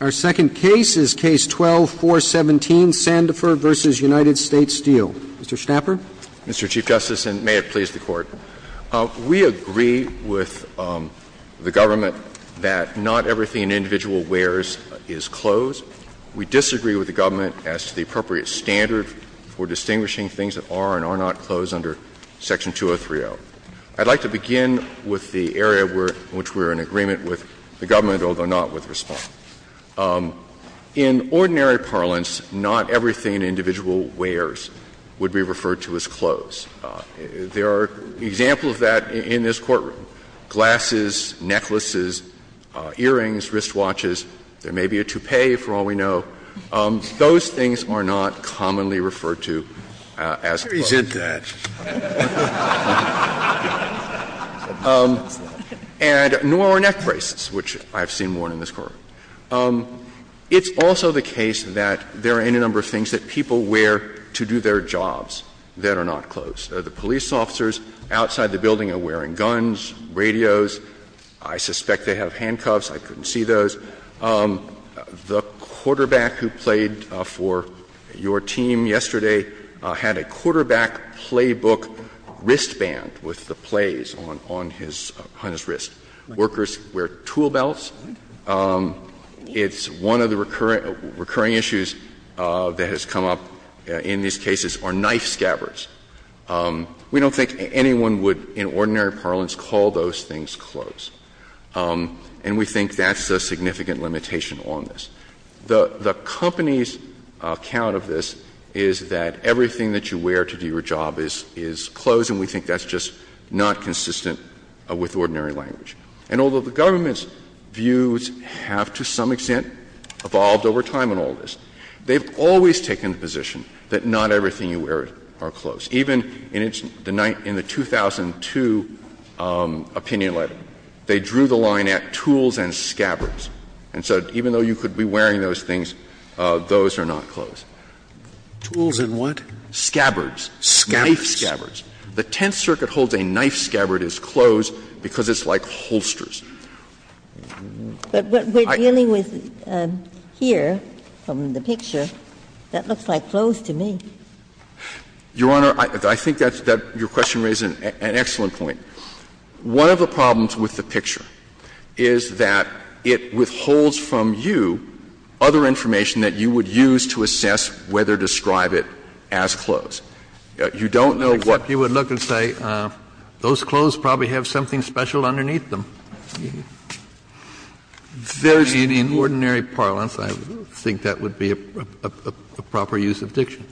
Our second case is Case 12-417, Sandifer v. United States Steel. Mr. Schnapper. Mr. Chief Justice, and may it please the Court. We agree with the government that not everything an individual wears is clothes. We disagree with the government as to the appropriate standard for distinguishing things that are and are not clothes under Section 203-0. I'd like to begin with the area in which we're in agreement with the government, although not with response. In ordinary parlance, not everything an individual wears would be referred to as clothes. There are examples of that in this courtroom. Glasses, necklaces, earrings, wristwatches, there may be a toupee, for all we know. Those things are not commonly referred to as clothes. Scalia, I didn't mean to represent that. And nor are neck braces, which I've seen worn in this courtroom. It's also the case that there are any number of things that people wear to do their jobs that are not clothes. The police officers outside the building are wearing guns, radios. I suspect they have handcuffs. I couldn't see those. The quarterback who played for your team yesterday had a quarterback playbook wristband with the plays on his wrist. Workers wear tool belts. It's one of the recurring issues that has come up in these cases are knife scabbards. We don't think anyone would, in ordinary parlance, call those things clothes. And we think that's a significant limitation on this. The company's account of this is that everything that you wear to do your job is clothes, and we think that's just not consistent with ordinary language. And although the government's views have, to some extent, evolved over time in all of this, they've always taken the position that not everything you wear are clothes, even in the 2002 opinion letter, they drew the line at tools and scabbards. And so even though you could be wearing those things, those are not clothes. Tools and what? Scabbards. Knife scabbards. The Tenth Circuit holds a knife scabbard as clothes because it's like holsters. But what we're dealing with here from the picture, that looks like clothes to me. Your Honor, I think that's that your question raises an excellent point. One of the problems with the picture is that it withholds from you other information that you would use to assess whether to describe it as clothes. You don't know what. Kennedy, you would look and say, those clothes probably have something special underneath them. In ordinary parlance, I think that would be a proper use of diction.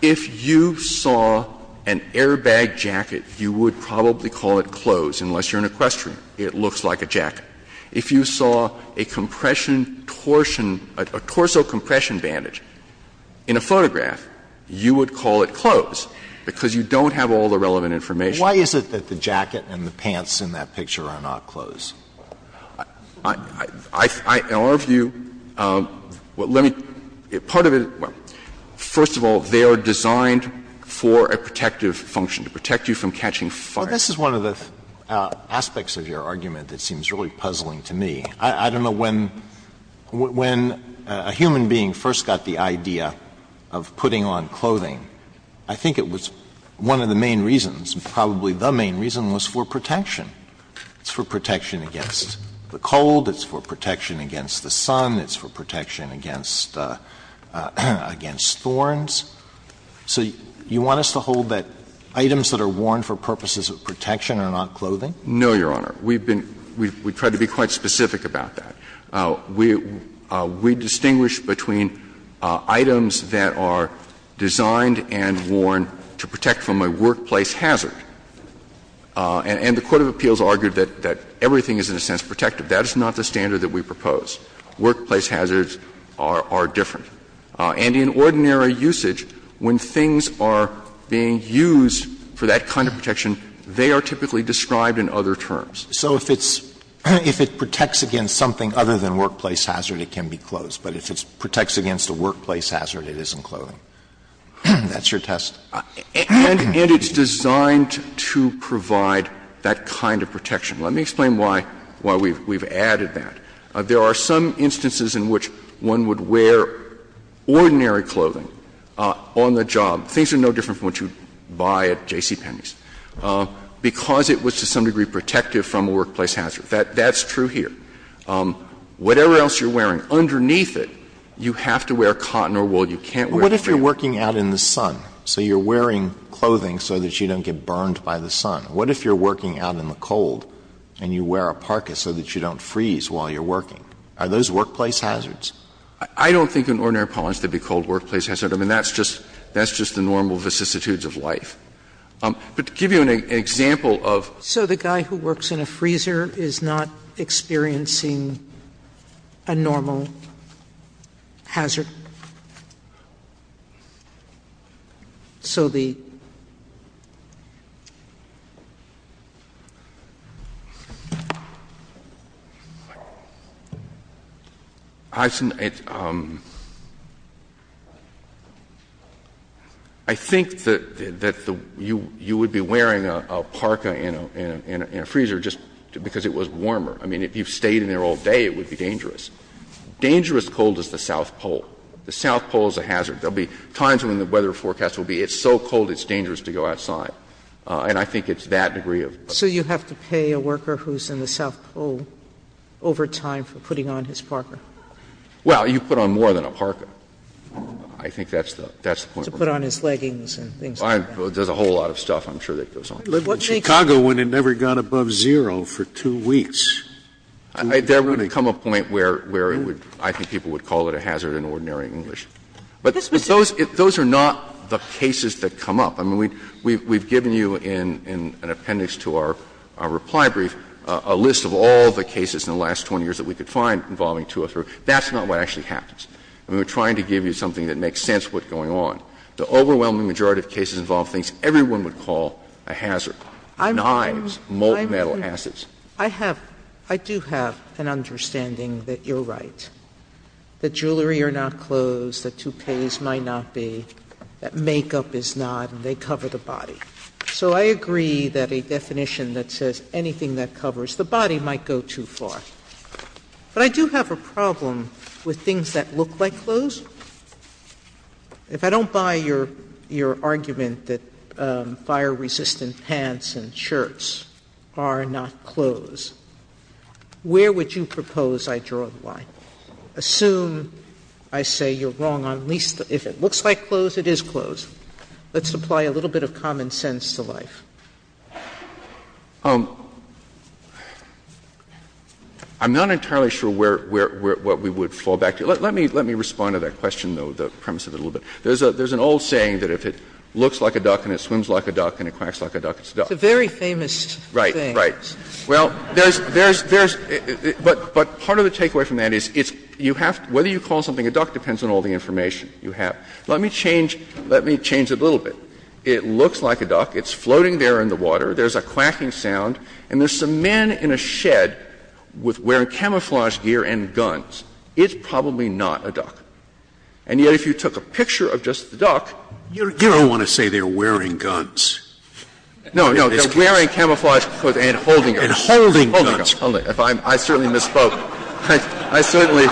If you saw an airbag jacket, you would probably call it clothes, unless you're in a question. It looks like a jacket. If you saw a compression torsion, a torso compression bandage in a photograph, you would call it clothes because you don't have all the relevant information. Why is it that the jacket and the pants in that picture are not clothes? In our view, let me – part of it – first of all, they are designed for a protective function, to protect you from catching fire. Alito, this is one of the aspects of your argument that seems really puzzling to me. I don't know when a human being first got the idea of putting on clothing. I think it was one of the main reasons, probably the main reason, was for protection. It's for protection against the cold. It's for protection against the sun. It's for protection against thorns. So you want us to hold that items that are worn for purposes of protection are not clothing? No, Your Honor. We've been – we've tried to be quite specific about that. We distinguish between items that are designed and worn to protect from a workplace hazard. And the court of appeals argued that everything is, in a sense, protective. That is not the standard that we propose. Workplace hazards are different. And in ordinary usage, when things are being used for that kind of protection, they are typically described in other terms. So if it's – if it protects against something other than workplace hazard, it can be clothes. But if it protects against a workplace hazard, it isn't clothing. That's your test? And it's designed to provide that kind of protection. Let me explain why we've added that. There are some instances in which one would wear ordinary clothing on the job. Things are no different from what you'd buy at J.C. Penney's. Because it was to some degree protective from a workplace hazard. That's true here. Whatever else you're wearing, underneath it, you have to wear cotton or wool. You can't wear fabric. But what if you're working out in the sun, so you're wearing clothing so that you don't get burned by the sun? What if you're working out in the cold and you wear a parka so that you don't freeze while you're working? Are those workplace hazards? I don't think in ordinary appellants they'd be called workplace hazards. I mean, that's just the normal vicissitudes of life. But to give you an example of the guy who works in a freezer is not experiencing a normal hazard. So the ---- I think that you would be wearing a parka in a freezer just because it was warmer. I mean, if you stayed in there all day, it would be dangerous. Dangerous cold is the South Pole. The South Pole is a hazard. There will be times when the weather forecast will be it's so cold it's dangerous to go outside. And I think it's that degree of ---- Sotomayor, So you have to pay a worker who's in the South Pole over time for putting on his parka? Well, you put on more than a parka. I think that's the point. To put on his leggings and things like that. There's a whole lot of stuff I'm sure that goes on. Scalia, In Chicago, one had never gone above zero for two weeks. There would come a point where it would, I think people would call it a hazard in ordinary English. But those are not the cases that come up. I mean, we've given you in an appendix to our reply brief a list of all the cases in the last 20 years that we could find involving two or three. That's not what actually happens. We're trying to give you something that makes sense of what's going on. The overwhelming majority of cases involve things everyone would call a hazard. Knives, molten metal acids. I have, I do have an understanding that you're right. That jewelry are not clothes, that toupees might not be, that makeup is not, and they cover the body. So I agree that a definition that says anything that covers the body might go too far. But I do have a problem with things that look like clothes. If I don't buy your argument that fire-resistant pants and shirts are not clothes, where would you propose I draw the line? Assume I say you're wrong on at least if it looks like clothes, it is clothes. Let's apply a little bit of common sense to life. Verrilli, I'm not entirely sure where, what we would fall back to. Let me respond to that question, though, the premise of it a little bit. There's an old saying that if it looks like a duck and it swims like a duck and it quacks like a duck, it's a duck. Sotomayor, It's a very famous thing. Verrilli, Right, right. Well, there's, there's, there's, but, but part of the takeaway from that is it's, you have to, whether you call something a duck depends on all the information you have. Let me change, let me change it a little bit. It looks like a duck, it's floating there in the water, there's a quacking sound, and there's some men in a shed with wearing camouflage gear and guns. It's probably not a duck. And yet if you took a picture of just the duck, you're, you're. Scalia, You don't want to say they're wearing guns. Verrilli, No, no. They're wearing camouflage and holding guns. Scalia, And holding guns. Verrilli, Holding guns. I certainly misspoke. I certainly,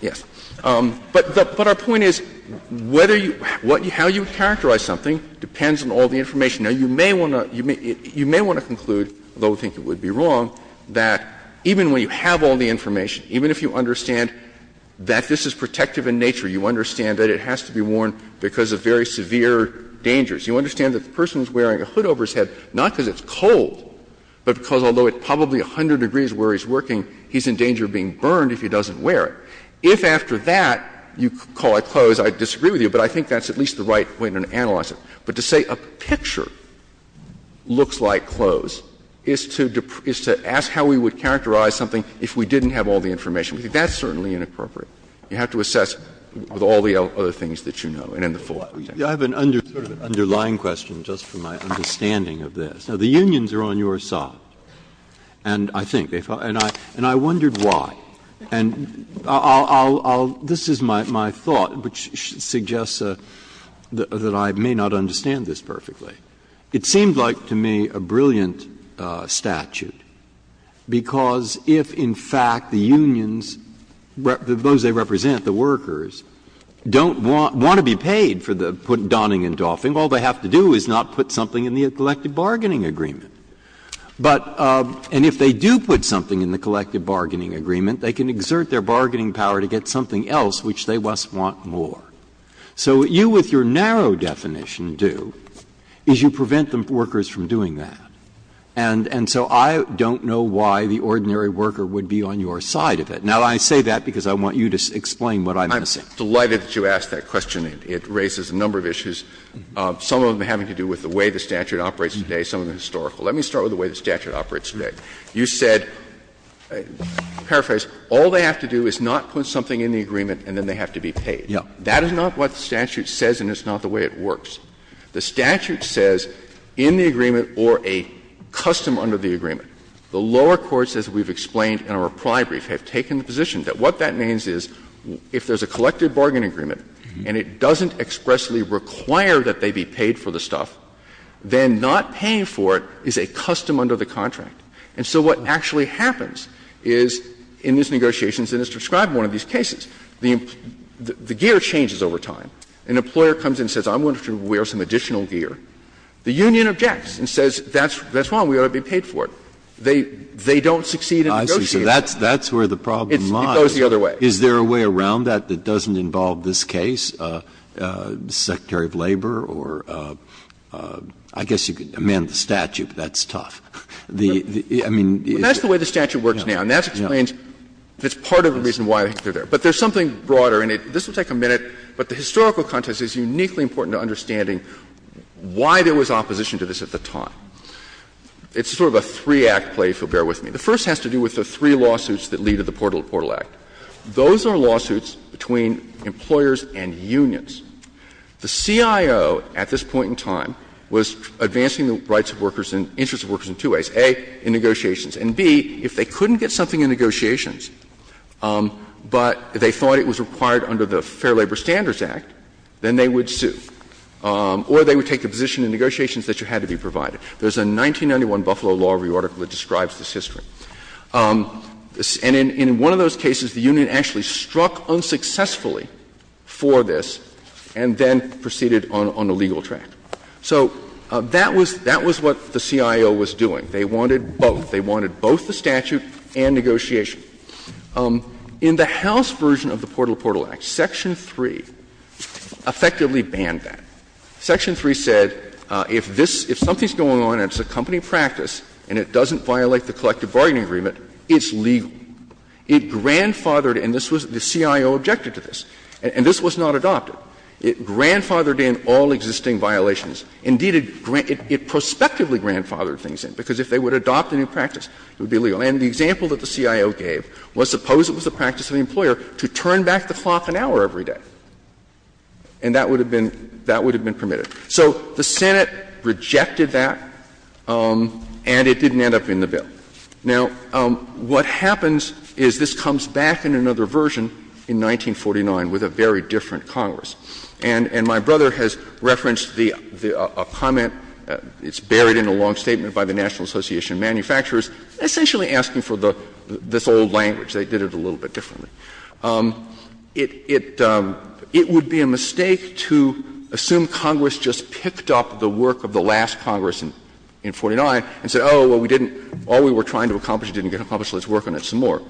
yes. But our point is whether you, how you characterize something depends on all the information. Now, you may want to, you may want to conclude, although I think it would be wrong, that even when you have all the information, even if you understand that this is protective in nature, you understand that it has to be worn because of very severe dangers. You understand that the person is wearing a hood over his head not because it's cold, but because although it's probably 100 degrees where he's working, he's in danger of being burned if he doesn't wear it. If after that you call a close, I disagree with you, but I think that's at least the right way to analyze it. But to say a picture looks like close is to, is to ask how we would characterize something if we didn't have all the information. I think that's certainly inappropriate. You have to assess with all the other things that you know and in the full context. Breyer. I have an underlying question, just for my understanding of this. Now, the unions are on your side, and I think they are. I wondered why. This is my thought, which suggests that I may not understand this perfectly. It seemed like to me a brilliant statute, because if in fact the unions, those they put Donning and Dauphin, all they have to do is not put something in the collective bargaining agreement. But and if they do put something in the collective bargaining agreement, they can exert their bargaining power to get something else, which they must want more. So what you, with your narrow definition, do is you prevent the workers from doing that. And so I don't know why the ordinary worker would be on your side of it. Now, I say that because I want you to explain what I'm going to say. I'm delighted that you asked that question. It raises a number of issues, some of them having to do with the way the statute operates today, some of them historical. Let me start with the way the statute operates today. You said, to paraphrase, all they have to do is not put something in the agreement and then they have to be paid. That is not what the statute says and it's not the way it works. The statute says in the agreement or a custom under the agreement, the lower courts, as we've explained in our reply brief, have taken the position that what that means is if there's a collective bargain agreement and it doesn't expressly require that they be paid for the stuff, then not paying for it is a custom under the contract. And so what actually happens is, in these negotiations, and it's described in one of these cases, the gear changes over time. An employer comes in and says, I'm going to have to wear some additional gear. The union objects and says, that's wrong, we ought to be paid for it. They don't succeed in negotiating. Breyer, so that's where the problem lies. It goes the other way. Is there a way around that that doesn't involve this case, Secretary of Labor? Or I guess you could amend the statute, but that's tough. The, I mean, is it? Well, that's the way the statute works now and that explains, it's part of the reason why they're there. But there's something broader in it. This will take a minute, but the historical context is uniquely important to understanding why there was opposition to this at the time. It's sort of a three-act play, if you'll bear with me. The first has to do with the three lawsuits that lead to the Portal to Portal Act. Those are lawsuits between employers and unions. The CIO at this point in time was advancing the rights of workers and interests of workers in two ways. A, in negotiations, and B, if they couldn't get something in negotiations, but they thought it was required under the Fair Labor Standards Act, then they would sue. Or they would take the position in negotiations that it had to be provided. There's a 1991 Buffalo Law Review article that describes this history. And in one of those cases, the union actually struck unsuccessfully for this and then proceeded on a legal track. So that was what the CIO was doing. They wanted both. They wanted both the statute and negotiation. In the House version of the Portal to Portal Act, Section 3 effectively banned that. Section 3 said if this, if something's going on and it's a company practice and it doesn't violate the collective bargaining agreement, it's legal. It grandfathered, and this was the CIO objected to this, and this was not adopted. It grandfathered in all existing violations. Indeed, it prospectively grandfathered things in, because if they would adopt a new practice, it would be legal. And the example that the CIO gave was suppose it was the practice of the employer to turn back the clock an hour every day, and that would have been permitted. So the Senate rejected that, and it didn't end up in the bill. Now, what happens is this comes back in another version in 1949 with a very different Congress. And my brother has referenced a comment, it's buried in a long statement by the National Association of Manufacturers, essentially asking for this old language. They did it a little bit differently. It would be a mistake to assume Congress just picked up the work of the last Congress in 49 and said, oh, well, we didn't, all we were trying to accomplish didn't get accomplished. Let's work on it some more.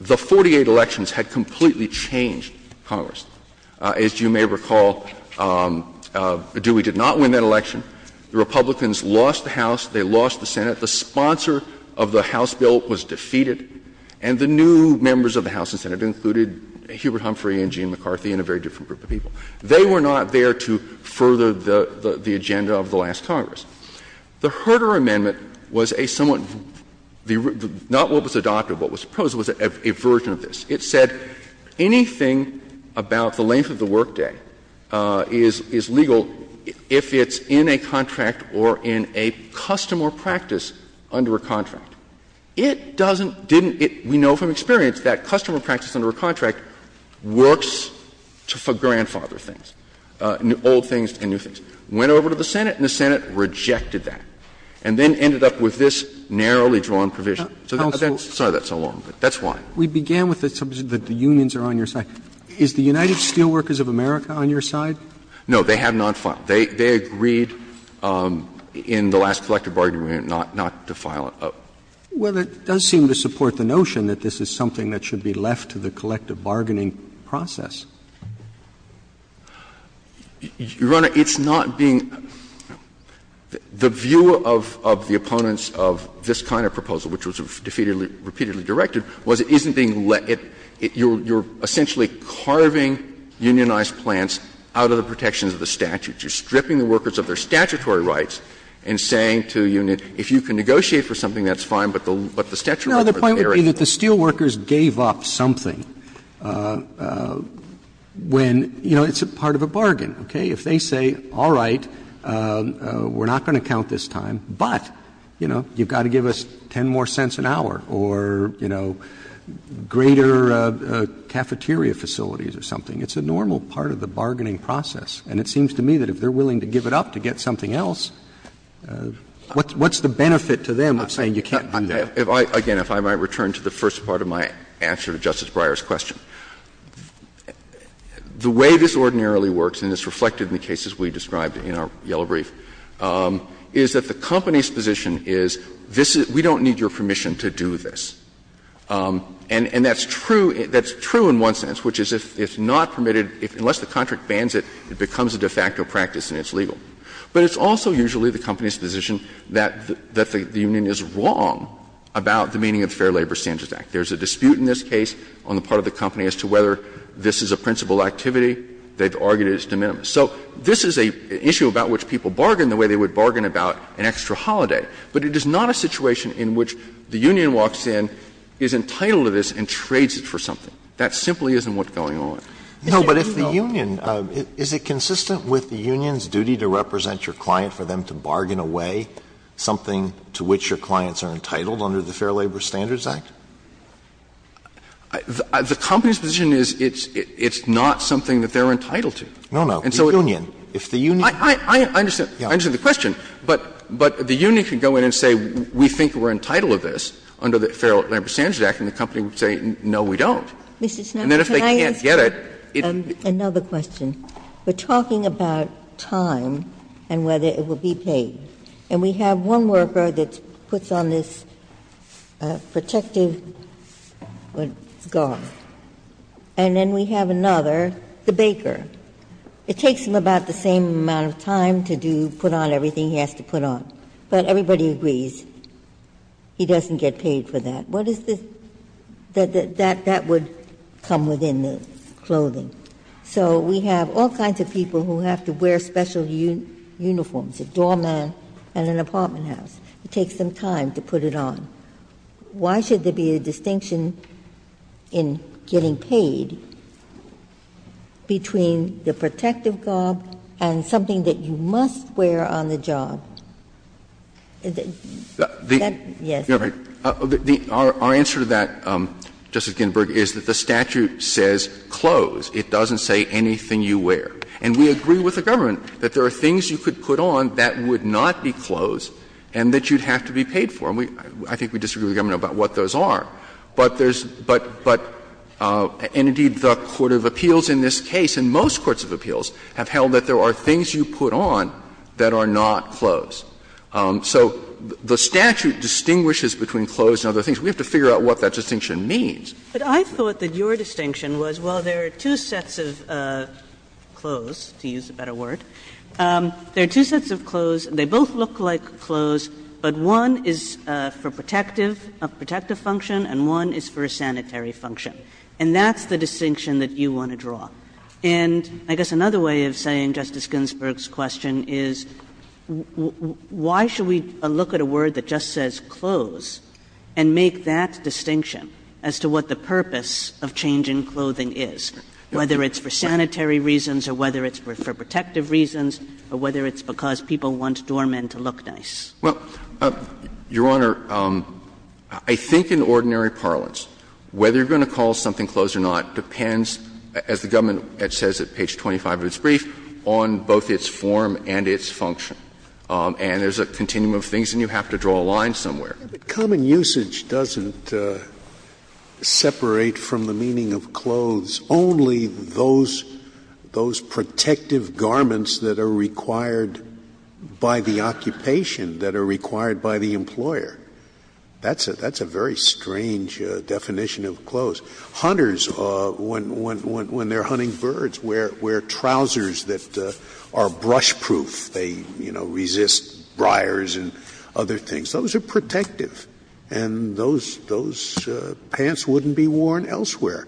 The 48 elections had completely changed Congress. As you may recall, Dewey did not win that election. The Republicans lost the House, they lost the Senate. The sponsor of the House bill was defeated. And the new members of the House and Senate included Hubert Humphrey and Gene McCarthy and a very different group of people. They were not there to further the agenda of the last Congress. The Herter Amendment was a somewhat — not what was adopted, what was proposed was a version of this. It said anything about the length of the workday is legal if it's in a contract or in a custom or practice under a contract. It doesn't, didn't — we know from experience that custom or practice under a contract works for grandfather things, old things and new things. Went over to the Senate and the Senate rejected that and then ended up with this narrowly drawn provision. So that's why. Roberts, we began with the unions are on your side. Is the United Steelworkers of America on your side? No, they have not filed. They agreed in the last collective bargaining agreement not to file. Well, it does seem to support the notion that this is something that should be left to the collective bargaining process. Your Honor, it's not being — the view of the opponents of this kind of proposal, which was repeatedly directed, was it isn't being let — you're essentially carving unionized plans out of the protections of the statute. You're stripping the workers of their statutory rights and saying to a unit, if you can negotiate for something, that's fine, but the statutory rights are there. No, the point would be that the steelworkers gave up something when, you know, it's a part of a bargain, okay? If they say, all right, we're not going to count this time, but, you know, you've got to give us 10 more cents an hour or, you know, greater cafeteria facilities or something, it's a normal part of the bargaining process. And it seems to me that if they're willing to give it up to get something else, what's the benefit to them of saying you can't do that? Again, if I might return to the first part of my answer to Justice Breyer's question. The way this ordinarily works, and it's reflected in the cases we described in our yellow brief, is that the company's position is this is — we don't need your permission to do this. And that's true. That's true in one sense, which is if not permitted, unless the contract bans it, it becomes a de facto practice and it's legal. But it's also usually the company's position that the union is wrong about the meaning of the Fair Labor Standards Act. There's a dispute in this case on the part of the company as to whether this is a principal activity. They've argued it's de minimis. So this is an issue about which people bargain the way they would bargain about an extra holiday. But it is not a situation in which the union walks in, is entitled to this, and trades it for something. That simply isn't what's going on. No, but if the union — is it consistent with the union's duty to represent your client for them to bargain away something to which your clients are entitled under the Fair Labor Standards Act? The company's position is it's not something that they're entitled to. No, no. The union. If the union — I understand. I understand the question. But the union can go in and say we think we're entitled to this under the Fair Labor Standards Act, and the company would say no, we don't. And then if they can't get it, it's — Ginsburg, Mr. Schneider, can I ask another question? We're talking about time and whether it will be paid. And we have one worker that puts on this protective scarf, and then we have another, the baker. It takes him about the same amount of time to put on everything he has to put on. But everybody agrees he doesn't get paid for that. What is the — that would come within the clothing. So we have all kinds of people who have to wear special uniforms, a doorman and an apartment house. It takes them time to put it on. Why should there be a distinction in getting paid between the protective scarf and something that you must wear on the job? Is that — yes. Our answer to that, Justice Ginsburg, is that the statute says clothes. It doesn't say anything you wear. And we agree with the government that there are things you could put on that would not be clothes and that you'd have to be paid for. And we — I think we disagree with the government about what those are. But there's — but — but — and indeed, the court of appeals in this case, and most courts of appeals, have held that there are things you put on that are not clothes. So the statute distinguishes between clothes and other things. We have to figure out what that distinction means. But I thought that your distinction was, well, there are two sets of clothes, to use a better word. There are two sets of clothes. They both look like clothes, but one is for protective, a protective function, and one is for a sanitary function. And that's the distinction that you want to draw. And I guess another way of saying Justice Ginsburg's question is, why should we look at a word that just says clothes and make that distinction as to what the purpose of changing clothing is, whether it's for sanitary reasons or whether it's for protective reasons, or whether it's because people want doormen to look nice? Well, Your Honor, I think in ordinary parlance, whether you're going to call something clothes or not depends, as the government says at page 25 of its brief, on both its form and its function. And there's a continuum of things, and you have to draw a line somewhere. Scalia, but common usage doesn't separate from the meaning of clothes only those protective garments that are required by the occupation that are required by the employer. That's a very strange definition of clothes. Hunters, when they're hunting birds, wear trousers that are brush-proof. They, you know, resist briars and other things. Those are protective, and those pants wouldn't be worn elsewhere.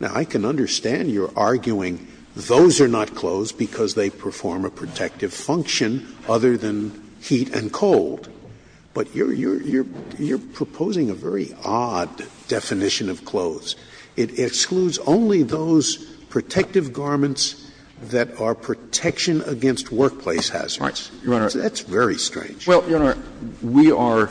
Now, I can understand your arguing those are not clothes because they perform a protective function other than heat and cold, but you're proposing a very odd definition of clothes. It excludes only those protective garments that are protection against workplace hazards. That's very strange. Well, Your Honor, we are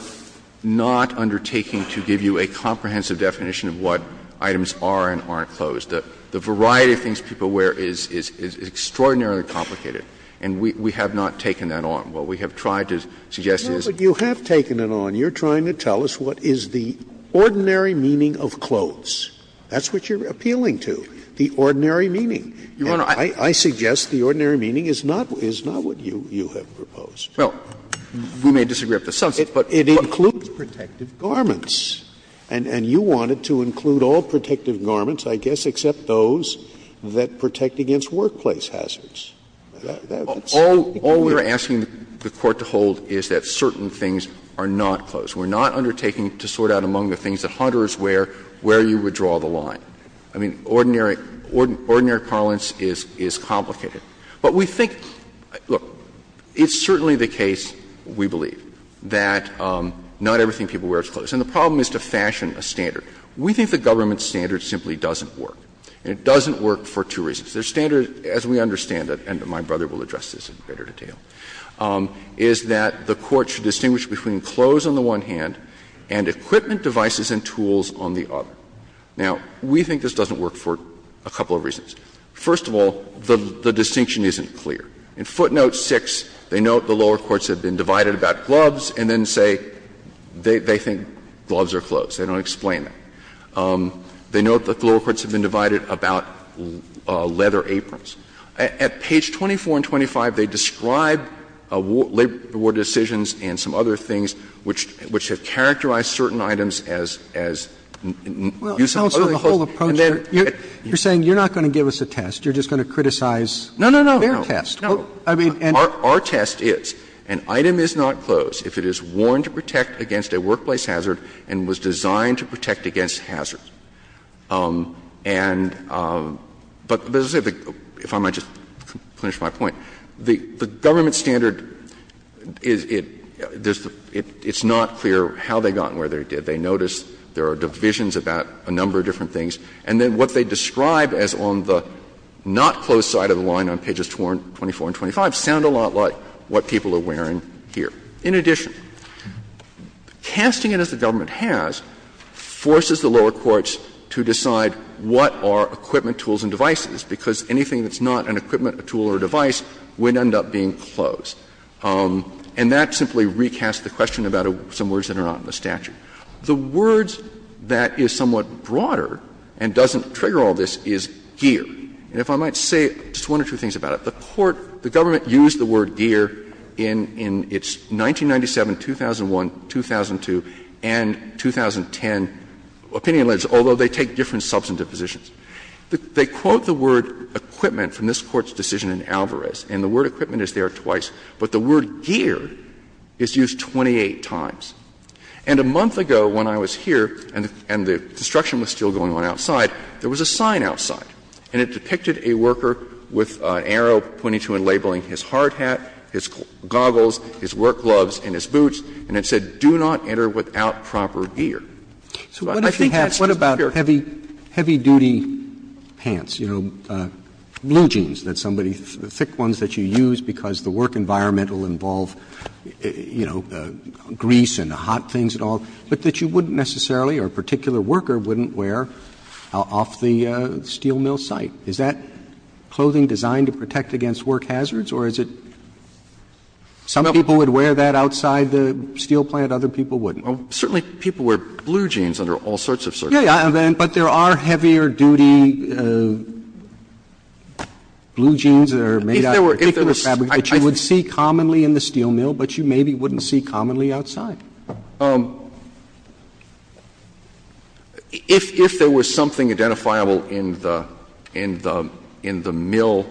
not undertaking to give you a comprehensive definition of what items are and aren't clothes. The variety of things people wear is extraordinarily complicated, and we have not taken that on. What we have tried to suggest is that you have taken it on. And you're trying to tell us what is the ordinary meaning of clothes. That's what you're appealing to, the ordinary meaning. Your Honor, I suggest the ordinary meaning is not what you have proposed. Well, we may disagree up to some extent, but it includes protective garments. And you want it to include all protective garments, I guess, except those that protect against workplace hazards. All we're asking the Court to hold is that certain things are not clothes. We're not undertaking to sort out among the things that hunters wear where you would draw the line. I mean, ordinary parlance is complicated. But we think, look, it's certainly the case, we believe, that not everything people wear is clothes. And the problem is to fashion a standard. We think the government standard simply doesn't work. And it doesn't work for two reasons. The standard, as we understand it, and my brother will address this in greater detail, is that the Court should distinguish between clothes on the one hand and equipment devices and tools on the other. Now, we think this doesn't work for a couple of reasons. First of all, the distinction isn't clear. In footnote 6, they note the lower courts have been divided about gloves and then say they think gloves are clothes. They don't explain that. They note that the lower courts have been divided about leather aprons. At page 24 and 25, they describe labor ward decisions and some other things which have characterized certain items as using clothes as clothes. And then, you're saying you're not going to give us a test. You're just going to criticize their test. No, no, no. Our test is, an item is not clothes if it is worn to protect against a workplace hazard and was designed to protect against hazards. And, but as I said, if I might just finish my point, the government standard is, it's not clear how they got where they did. They notice there are divisions about a number of different things, and then what they describe as on the not-clothes side of the line on pages 24 and 25 sound a lot like what people are wearing here. In addition, casting it as the government has forces the lower courts to decide what are equipment, tools, and devices, because anything that's not an equipment, a tool, or a device would end up being clothes. And that simply recasts the question about some words that are not in the statute. The words that is somewhat broader and doesn't trigger all this is gear. And if I might say just one or two things about it. The Court, the government used the word gear in its 1997, 2001, 2002, and 2010 opinion lists, although they take different substantive positions. They quote the word equipment from this Court's decision in Alvarez, and the word equipment is there twice, but the word gear is used 28 times. And a month ago when I was here and the destruction was still going on outside, there was a sign outside, and it depicted a worker with an arrow pointing to and labeling his hard hat, his goggles, his work gloves, and his boots, and it said, do not enter without proper gear. So I think that's just pure gear. Roberts, What about heavy-duty pants, you know, blue jeans that somebody, thick ones that you use because the work environment will involve, you know, grease and hot things and all, but that you wouldn't necessarily or a particular worker wouldn't wear off the steel mill site? Is that clothing designed to protect against work hazards, or is it some people would wear that outside the steel plant, other people wouldn't? Certainly people wear blue jeans under all sorts of circumstances. Yes, but there are heavier-duty blue jeans that are made out of a particular fabric that you would see commonly in the steel mill, but you maybe wouldn't see commonly outside. If there was something identifiable in the mill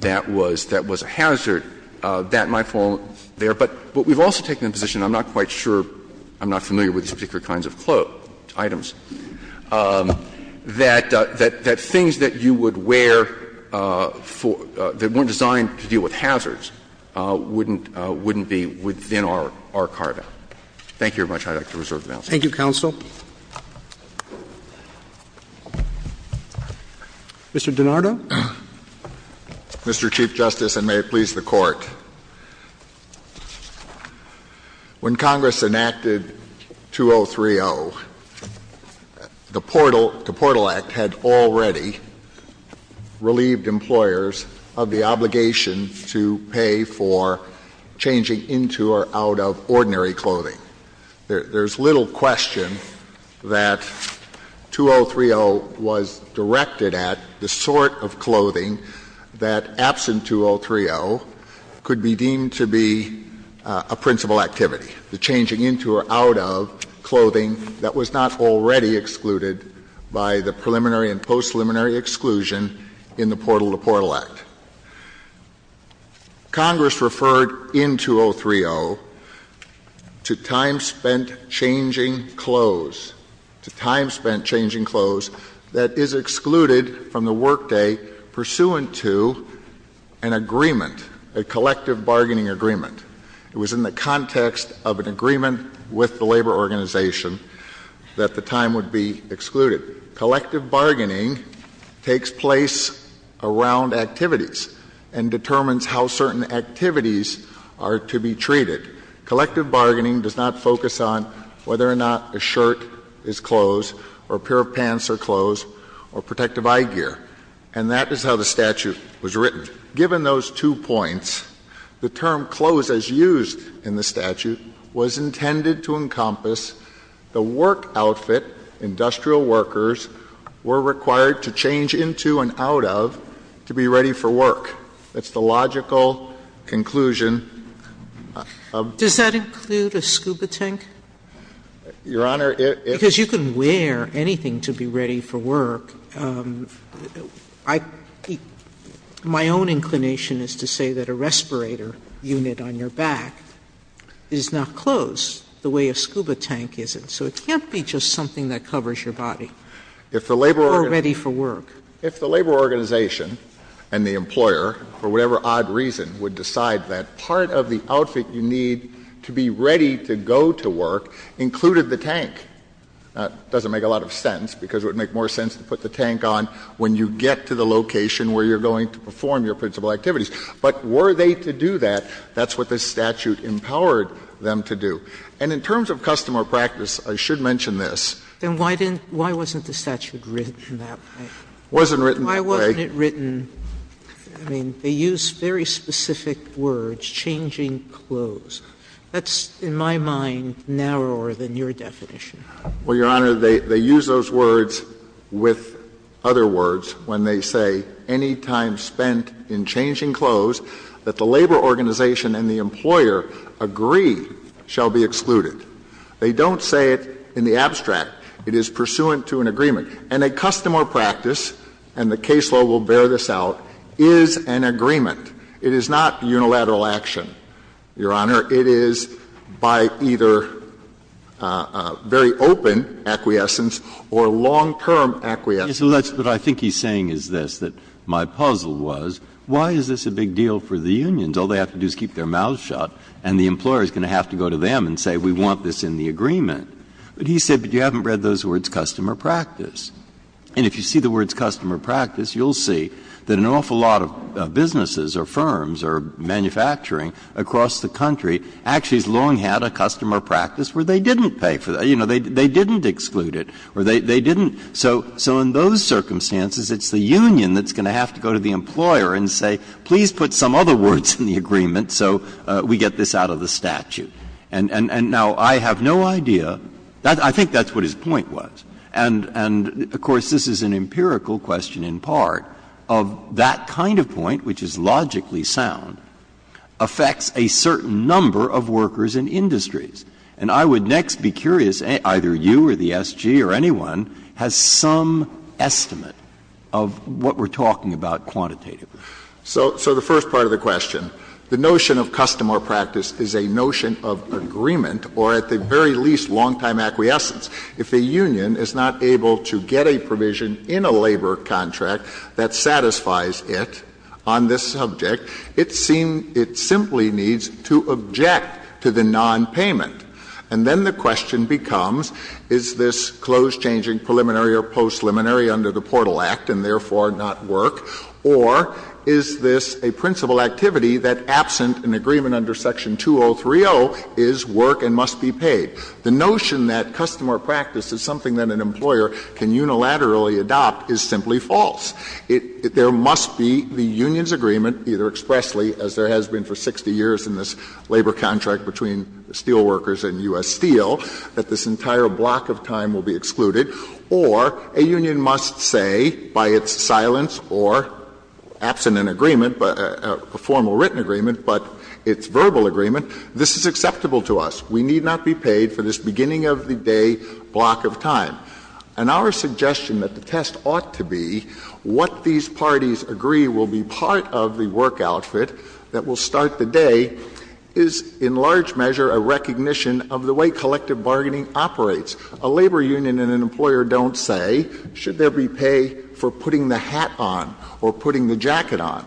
that was a hazard, that might fall there, but we've also taken the position, and I'm not quite sure, I'm not familiar with these particular kinds of items, that things that you would wear that weren't designed to deal with hazards wouldn't be within our carta. Thank you very much. I would like to reserve the balance. Thank you, counsel. Mr. DiNardo. Mr. Chief Justice, and may it please the Court. When Congress enacted 2030, the Portal Act had already relieved employers of the obligation to pay for changing into or out of ordinary clothing. There's little question that 2030 was directed at the sort of clothing that, absent 2030, could be deemed to be a principal activity, the changing into or out of clothing that was not already excluded by the preliminary and post-preliminary exclusion in the Portal to Portal Act. Congress referred in 2003-0 to time spent changing clothes, to time spent changing clothes that is excluded from the workday pursuant to an agreement, a collective bargaining agreement. It was in the context of an agreement with the labor organization that the time would be excluded. Collective bargaining takes place around activities and determines how certain activities are to be treated. Collective bargaining does not focus on whether or not a shirt is closed or a pair of pants are closed or protective eye gear. And that is how the statute was written. Given those two points, the term closed, as used in the statute, was intended to imply that workers were required to change into and out of to be ready for work. That's the logical conclusion of the statute. Sotomayor, does that include a scuba tank? Your Honor, it's Because you can wear anything to be ready for work. I, my own inclination is to say that a respirator unit on your back is not closed the way a scuba tank isn't. So it can't be just something that covers your body. Or ready for work. If the labor organization and the employer, for whatever odd reason, would decide that part of the outfit you need to be ready to go to work included the tank, that doesn't make a lot of sense, because it would make more sense to put the tank on when you get to the location where you're going to perform your principal activities. But were they to do that, that's what this statute empowered them to do. And in terms of customer practice, I should mention this. Sotomayor, why wasn't the statute written that way? Why wasn't it written? I mean, they use very specific words, changing clothes. That's, in my mind, narrower than your definition. Well, Your Honor, they use those words with other words when they say, any time spent in changing clothes that the labor organization and the employer agree shall be excluded. They don't say it in the abstract. It is pursuant to an agreement. And a customer practice, and the case law will bear this out, is an agreement. It is not unilateral action, Your Honor. It is by either very open acquiescence or long-term acquiescence. Breyer, what I think he's saying is this, that my puzzle was, why is this a big deal for the unions? All they have to do is keep their mouths shut, and the employer is going to have to go to them and say, we want this in the agreement. But he said, but you haven't read those words, customer practice. And if you see the words customer practice, you'll see that an awful lot of businesses or firms or manufacturing across the country actually has long had a customer practice where they didn't pay for that. You know, they didn't exclude it. Or they didn't so in those circumstances, it's the union that's going to have to go to the employer and say, please put some other words in the agreement so we get this out of the statute. And now, I have no idea. I think that's what his point was. And, of course, this is an empirical question in part of that kind of point, which is logically sound, affects a certain number of workers in industries. And I would next be curious, either you or the SG or anyone, has some estimate of what we're talking about quantitatively. So the first part of the question, the notion of customer practice is a notion of agreement, or at the very least, long-time acquiescence. If a union is not able to get a provision in a labor contract that satisfies it on this subject, it simply needs to object to the nonpayment. And then the question becomes, is this close changing preliminary or post-preliminary under the Portal Act and therefore not work, or is this a principal activity that absent an agreement under Section 2030 is work and must be paid? The notion that customer practice is something that an employer can unilaterally adopt is simply false. There must be the union's agreement, either expressly, as there has been for 60 years in this labor contract between steelworkers and U.S. Steel, that this entire block of time will be excluded, or a union must say by its silence or absent an agreement, a formal written agreement, but its verbal agreement, this is acceptable to us. We need not be paid for this beginning-of-the-day block of time. And our suggestion that the test ought to be what these parties agree will be part of the work outfit that will start the day is in large measure a recognition of the way collective bargaining operates. A labor union and an employer don't say, should there be pay for putting the hat on or putting the jacket on?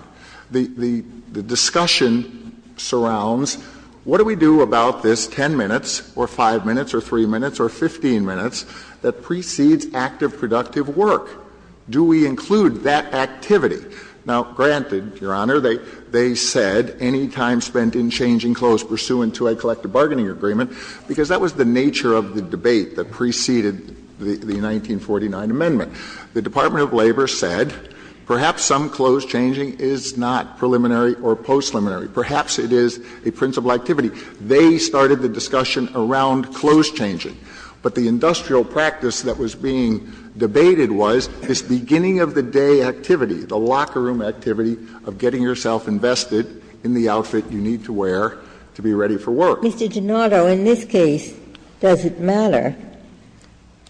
The discussion surrounds, what do we do about this 10 minutes or 5 minutes or 3 minutes or 15 minutes that precedes active, productive work? Do we include that activity? Now, granted, Your Honor, they said any time spent in changing clothes pursuant to a collective bargaining agreement, because that was the nature of the debate that preceded the 1949 amendment. The Department of Labor said perhaps some clothes changing is not preliminary or post-preliminary. Perhaps it is a principal activity. They started the discussion around clothes changing. But the industrial practice that was being debated was this beginning-of-the-day activity, the locker room activity of getting yourself invested in the outfit you need to wear to be ready for work. Ginsburg. Mr. Donato, in this case, does it matter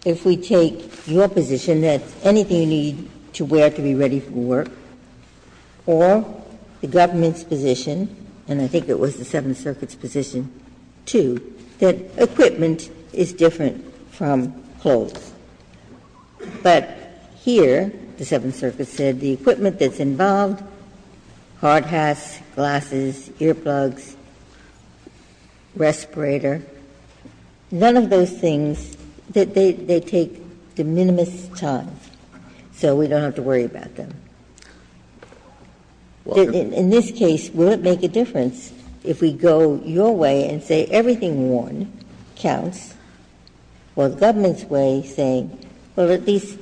if we take your position that anything you need to wear to be ready for work or the government's position, and I think it was the Seventh Circuit's position, too, that equipment is different from clothes? But here, the Seventh Circuit said the equipment that's involved, hard hats, glasses, earplugs, respirator, none of those things, they take the minimum time, so we don't have to worry about them. In this case, will it make a difference if we go your way and say everything worn counts, while the government's way saying, well, at least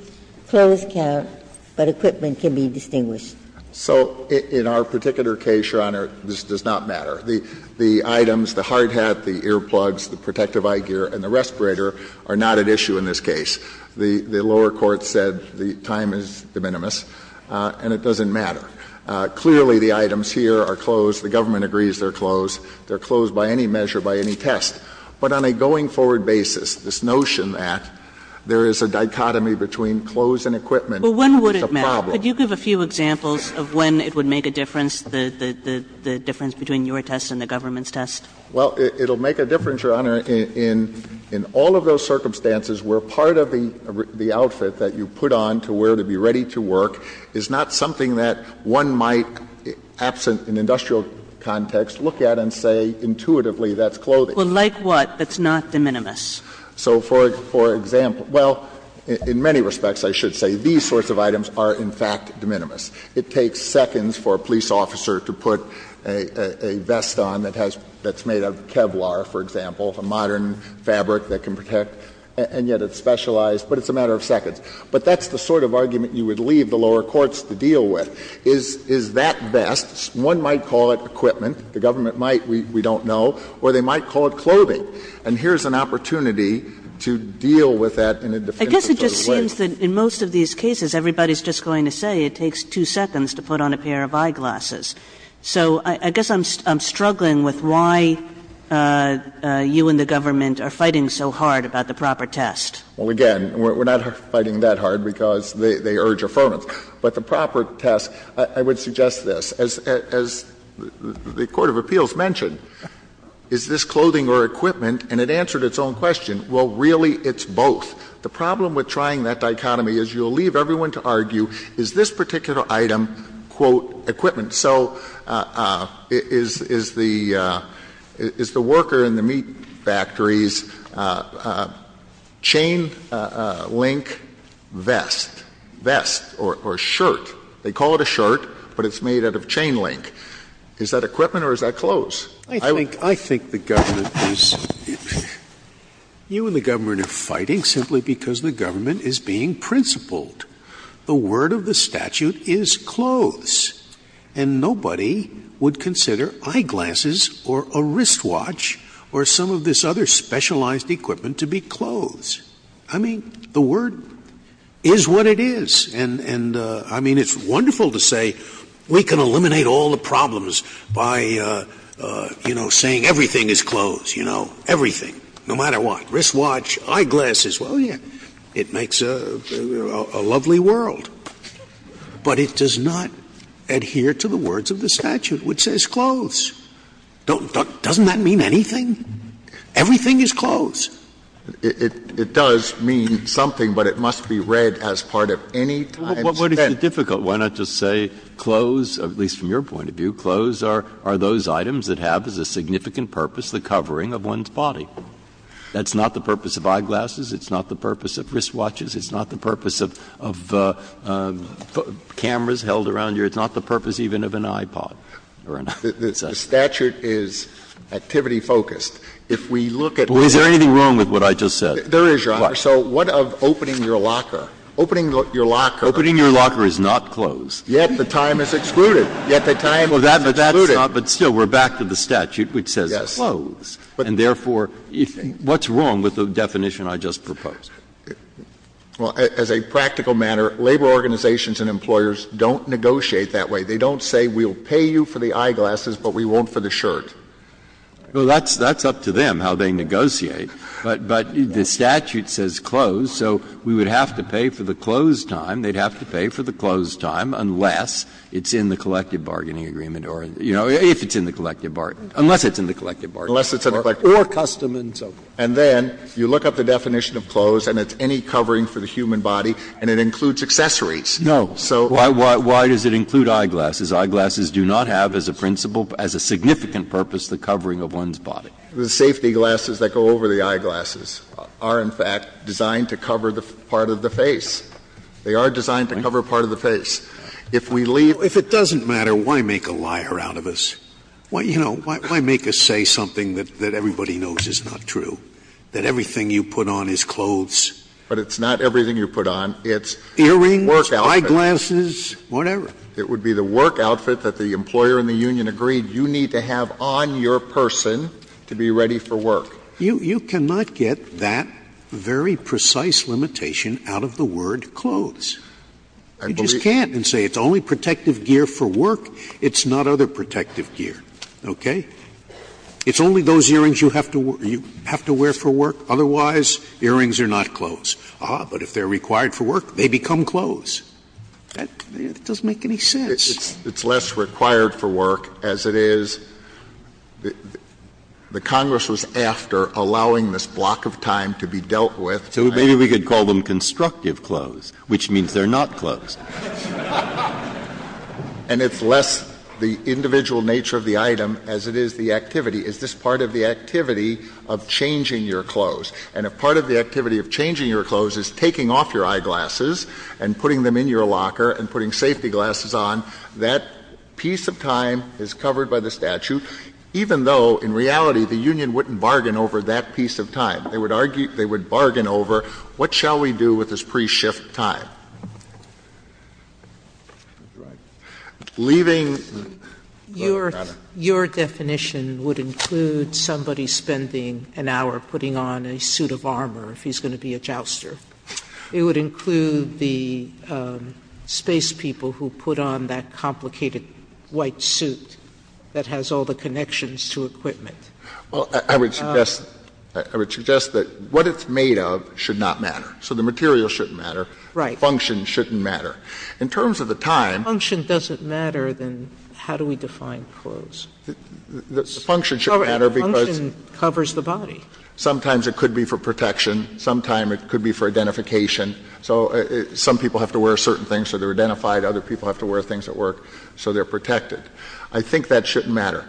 clothes count, but equipment can be distinguished? So in our particular case, Your Honor, this does not matter. The items, the hard hat, the earplugs, the protective eye gear, and the respirator are not at issue in this case. The lower court said the time is de minimis, and it doesn't matter. Clearly, the items here are clothes, the government agrees they're clothes, they're clothes by any measure, by any test. But on a going-forward basis, this notion that there is a dichotomy between clothes and equipment is a problem. Kagan, could you give a few examples of when it would make a difference, the difference between your test and the government's test? Well, it will make a difference, Your Honor, in all of those circumstances where part of the outfit that you put on to wear to be ready to work is not something that one might, absent an industrial context, look at and say intuitively that's clothing. Well, like what that's not de minimis? So for example, well, in many respects, I should say, these sorts of items are, in fact, de minimis. It takes seconds for a police officer to put a vest on that has that's made of Kevlar, for example, a modern fabric that can protect, and yet it's specialized. But it's a matter of seconds. But that's the sort of argument you would leave the lower courts to deal with. Is that vest, one might call it equipment, the government might, we don't know, or they might call it clothing. And here's an opportunity to deal with that in a definitive sort of way. I guess it just seems that in most of these cases, everybody's just going to say it takes two seconds to put on a pair of eyeglasses. So I guess I'm struggling with why you and the government are fighting so hard about the proper test. Well, again, we're not fighting that hard because they urge affirmance. But the proper test, I would suggest this. As the court of appeals mentioned, is this clothing or equipment? And it answered its own question. Well, really, it's both. The problem with trying that dichotomy is you'll leave everyone to argue, is this particular item, quote, equipment? So is the worker in the meat factories chain-link vest, vest or shirt, they call it a shirt, but it's made out of chain-link, is that equipment or is that clothes? I think the government is, you and the government are fighting simply because the government is being principled. The word of the statute is clothes. And nobody would consider eyeglasses or a wristwatch or some of this other specialized equipment to be clothes. I mean, the word is what it is. And I mean, it's wonderful to say we can eliminate all the problems by, you know, saying everything is clothes, you know, everything, no matter what, wristwatch, eyeglasses, well, yeah, it makes a lovely world. But it does not adhere to the words of the statute, which says clothes. Doesn't that mean anything? Everything is clothes. It does mean something, but it must be read as part of any time spent. But what if it's difficult? Why not just say clothes, at least from your point of view, clothes are those items that have as a significant purpose the covering of one's body. That's not the purpose of eyeglasses. It's not the purpose of wristwatches. It's not the purpose of cameras held around you. It's not the purpose even of an iPod or an iPod. The statute is activity-focused. If we look at what is there anything wrong with what I just said? There is, Your Honor. So what of opening your locker? Opening your locker. Opening your locker is not clothes. Yet the time is excluded. Yet the time is excluded. But still, we're back to the statute, which says clothes. And therefore, what's wrong with the definition I just proposed? Well, as a practical matter, labor organizations and employers don't negotiate that way. They don't say we'll pay you for the eyeglasses, but we won't for the shirt. Well, that's up to them how they negotiate. But the statute says clothes, so we would have to pay for the clothes time. They'd have to pay for the clothes time unless it's in the collective bargaining agreement or, you know, if it's in the collective bargain, unless it's in the collective bargain. Unless it's in the collective bargain, or custom and so forth. And then you look up the definition of clothes, and it's any covering for the human body, and it includes accessories. No. So why does it include eyeglasses? Eyeglasses do not have as a principle, as a significant purpose, the covering of one's body. The safety glasses that go over the eyeglasses are, in fact, designed to cover the part of the face. They are designed to cover part of the face. If we leave If it doesn't matter, why make a liar out of us? Why, you know, why make us say something that everybody knows is not true? That everything you put on is clothes. But it's not everything you put on. It's earrings, eyeglasses, whatever. It would be the work outfit that the employer in the union agreed you need to have on your person to be ready for work. You cannot get that very precise limitation out of the word clothes. You just can't. And say it's only protective gear for work. It's not other protective gear. Okay? It's only those earrings you have to wear for work. Otherwise, earrings are not clothes. Ah, but if they are required for work, they become clothes. That doesn't make any sense. It's less required for work, as it is the Congress was after allowing this block of time to be dealt with. So maybe we could call them constructive clothes, which means they are not clothes. And it's less the individual nature of the item as it is the activity. Is this part of the activity of changing your clothes? And if part of the activity of changing your clothes is taking off your eyeglasses and putting them in your locker and putting safety glasses on, that piece of time is covered by the statute, even though in reality the union wouldn't bargain over that piece of time. They would argue they would bargain over what shall we do with this pre-shift time. Leaving the matter. Sotomayor, your definition would include somebody spending an hour putting on a suit of armor if he's going to be a jouster. It would include the space people who put on that complicated white suit that has all the connections to equipment. Well, I would suggest that what it's made of should not matter. So the material shouldn't matter. Right. The function shouldn't matter. In terms of the time. If the function doesn't matter, then how do we define clothes? The function should matter because. The function covers the body. Sometimes it could be for protection. Sometimes it could be for identification. So some people have to wear certain things so they are identified. Other people have to wear things that work so they are protected. I think that shouldn't matter.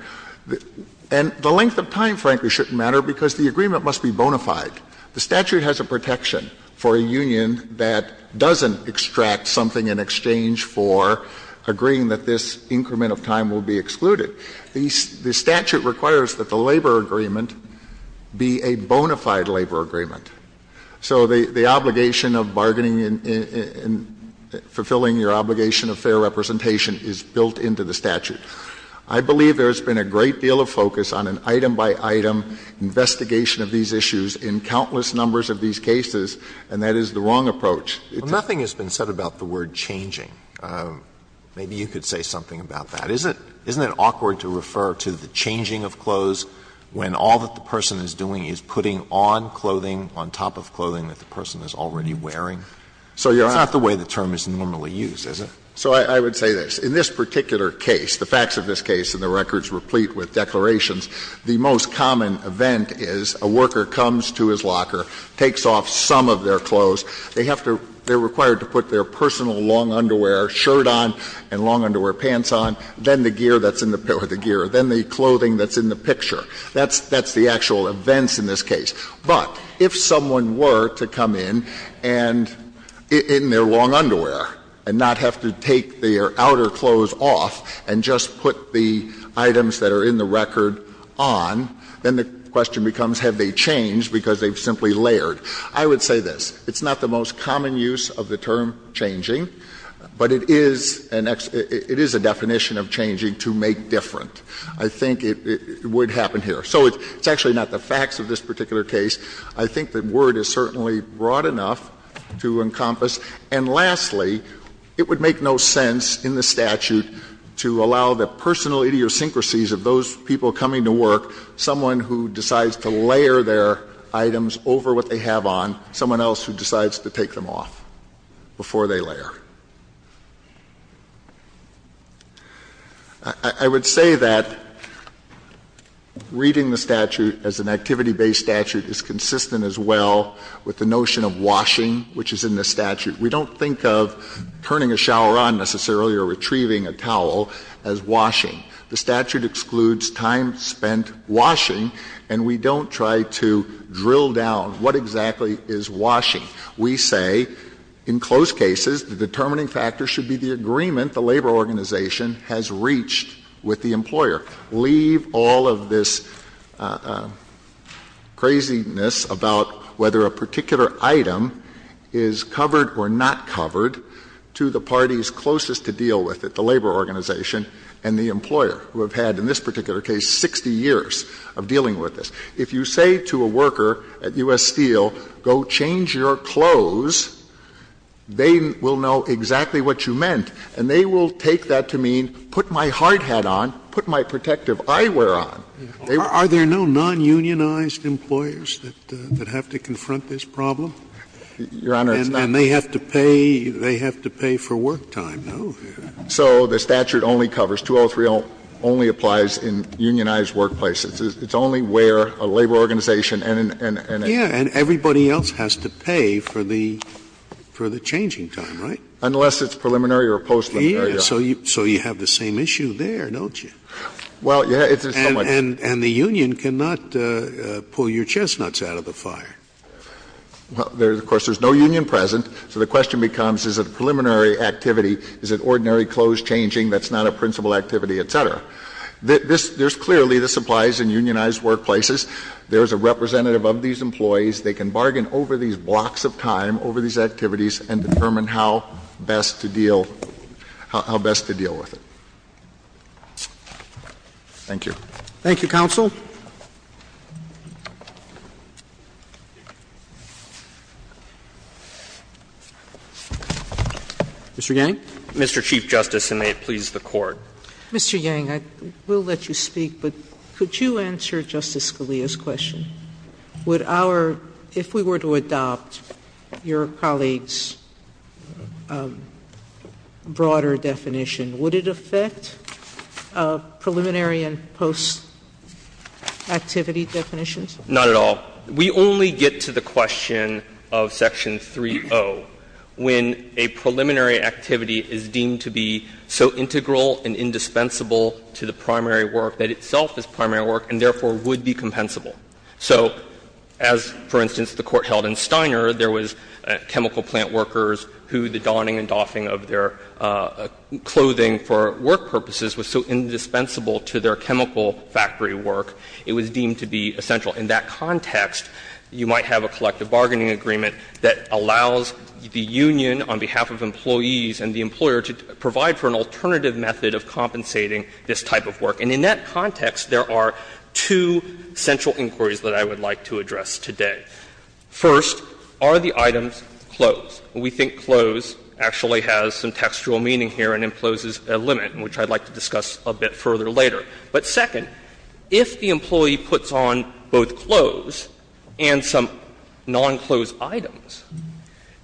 And the length of time, frankly, shouldn't matter because the agreement must be bona fide. The statute has a protection for a union that doesn't extract something in exchange for agreeing that this increment of time will be excluded. The statute requires that the labor agreement be a bona fide labor agreement. So the obligation of bargaining and fulfilling your obligation of fair representation is built into the statute. I believe there has been a great deal of focus on an item-by-item investigation of these issues in countless numbers of these cases, and that is the wrong approach. Alito, nothing has been said about the word changing. Maybe you could say something about that. Isn't it awkward to refer to the changing of clothes when all that the person is doing is putting on clothing on top of clothing that the person is already wearing? It's not the way the term is normally used, is it? So I would say this. In this particular case, the facts of this case and the records replete with declarations, the most common event is a worker comes to his locker, takes off some of their clothes. They have to be required to put their personal long underwear shirt on and long underwear pants on, then the gear that's in the gear, then the clothing that's in the picture. That's the actual events in this case. But if someone were to come in and in their long underwear and not have to take their record on, then the question becomes have they changed because they've simply layered. I would say this. It's not the most common use of the term changing, but it is an ex — it is a definition of changing to make different. I think it would happen here. So it's actually not the facts of this particular case. I think the word is certainly broad enough to encompass. And lastly, it would make no sense in the statute to allow the personal idiosyncrasies of those people coming to work, someone who decides to layer their items over what they have on, someone else who decides to take them off before they layer. I would say that reading the statute as an activity-based statute is consistent as well with the notion of washing, which is in the statute. We don't think of turning a shower on, necessarily, or retrieving a towel as washing. The statute excludes time spent washing, and we don't try to drill down what exactly is washing. We say in closed cases, the determining factor should be the agreement the labor organization has reached with the employer. Leave all of this craziness about whether a particular item is covered or not covered to the parties closest to deal with it, the labor organization and the employer, who have had in this particular case 60 years of dealing with this. If you say to a worker at U.S. Steel, go change your clothes, they will know exactly what you meant, and they will take that to mean, put my hard hat on, put my protective eyewear on. They will do that. Scalia. Are there no non-unionized employers that have to confront this problem? Your Honor, it's not. And they have to pay, they have to pay for work time, no? So the statute only covers, 203 only applies in unionized workplaces. It's only where a labor organization and and and and and everybody else has to pay for the for the changing time, right? Unless it's preliminary or post-preliminary. So you so you have the same issue there, don't you? Well, yeah, it's somewhat. And the union cannot pull your chestnuts out of the fire. Well, there's of course there's no union present. So the question becomes, is it a preliminary activity? Is it ordinary clothes changing that's not a principal activity, et cetera? This there's clearly this applies in unionized workplaces. There's a representative of these employees. They can bargain over these blocks of time, over these activities, and determine how best to deal how best to deal with it. Thank you. Thank you, counsel. Mr. Yang. Mr. Chief Justice, and may it please the Court. Mr. Yang, I will let you speak, but could you answer Justice Scalia's question? Would our – if we were to adopt your colleague's broader definition, would it affect our preliminary and post-activity definitions? Not at all. We only get to the question of Section 3.0 when a preliminary activity is deemed to be so integral and indispensable to the primary work that itself is primary work and therefore would be compensable. So as, for instance, the Court held in Steiner, there was chemical plant workers who the donning and doffing of their clothing for work purposes was so indispensable to their chemical factory work, it was deemed to be essential. In that context, you might have a collective bargaining agreement that allows the union on behalf of employees and the employer to provide for an alternative method of compensating this type of work. And in that context, there are two central inquiries that I would like to address today. First, are the items clothes? We think clothes actually has some textual meaning here, and then clothes is a limit, which I'd like to discuss a bit further later. But second, if the employee puts on both clothes and some non-clothes items,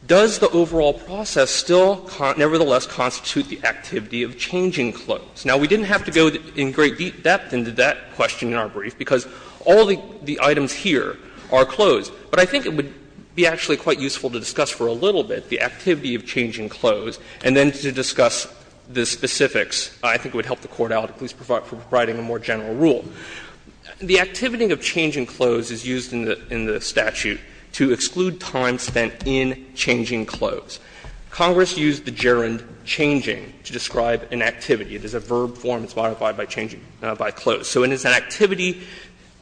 does the overall process still nevertheless constitute the activity of changing clothes? Now, we didn't have to go in great deep depth into that question in our brief, because all the items here are clothes. But I think it would be actually quite useful to discuss for a little bit the activity of changing clothes, and then to discuss the specifics. I think it would help the Court out, at least providing a more general rule. The activity of changing clothes is used in the statute to exclude time spent in changing clothes. Congress used the gerund changing to describe an activity. It is a verb form. It's modified by changing, by clothes. So it is an activity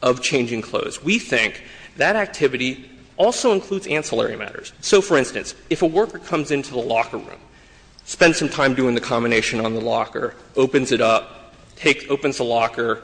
of changing clothes. We think that activity also includes ancillary matters. So, for instance, if a worker comes into the locker room, spends some time doing the combination on the locker, opens it up, opens the locker,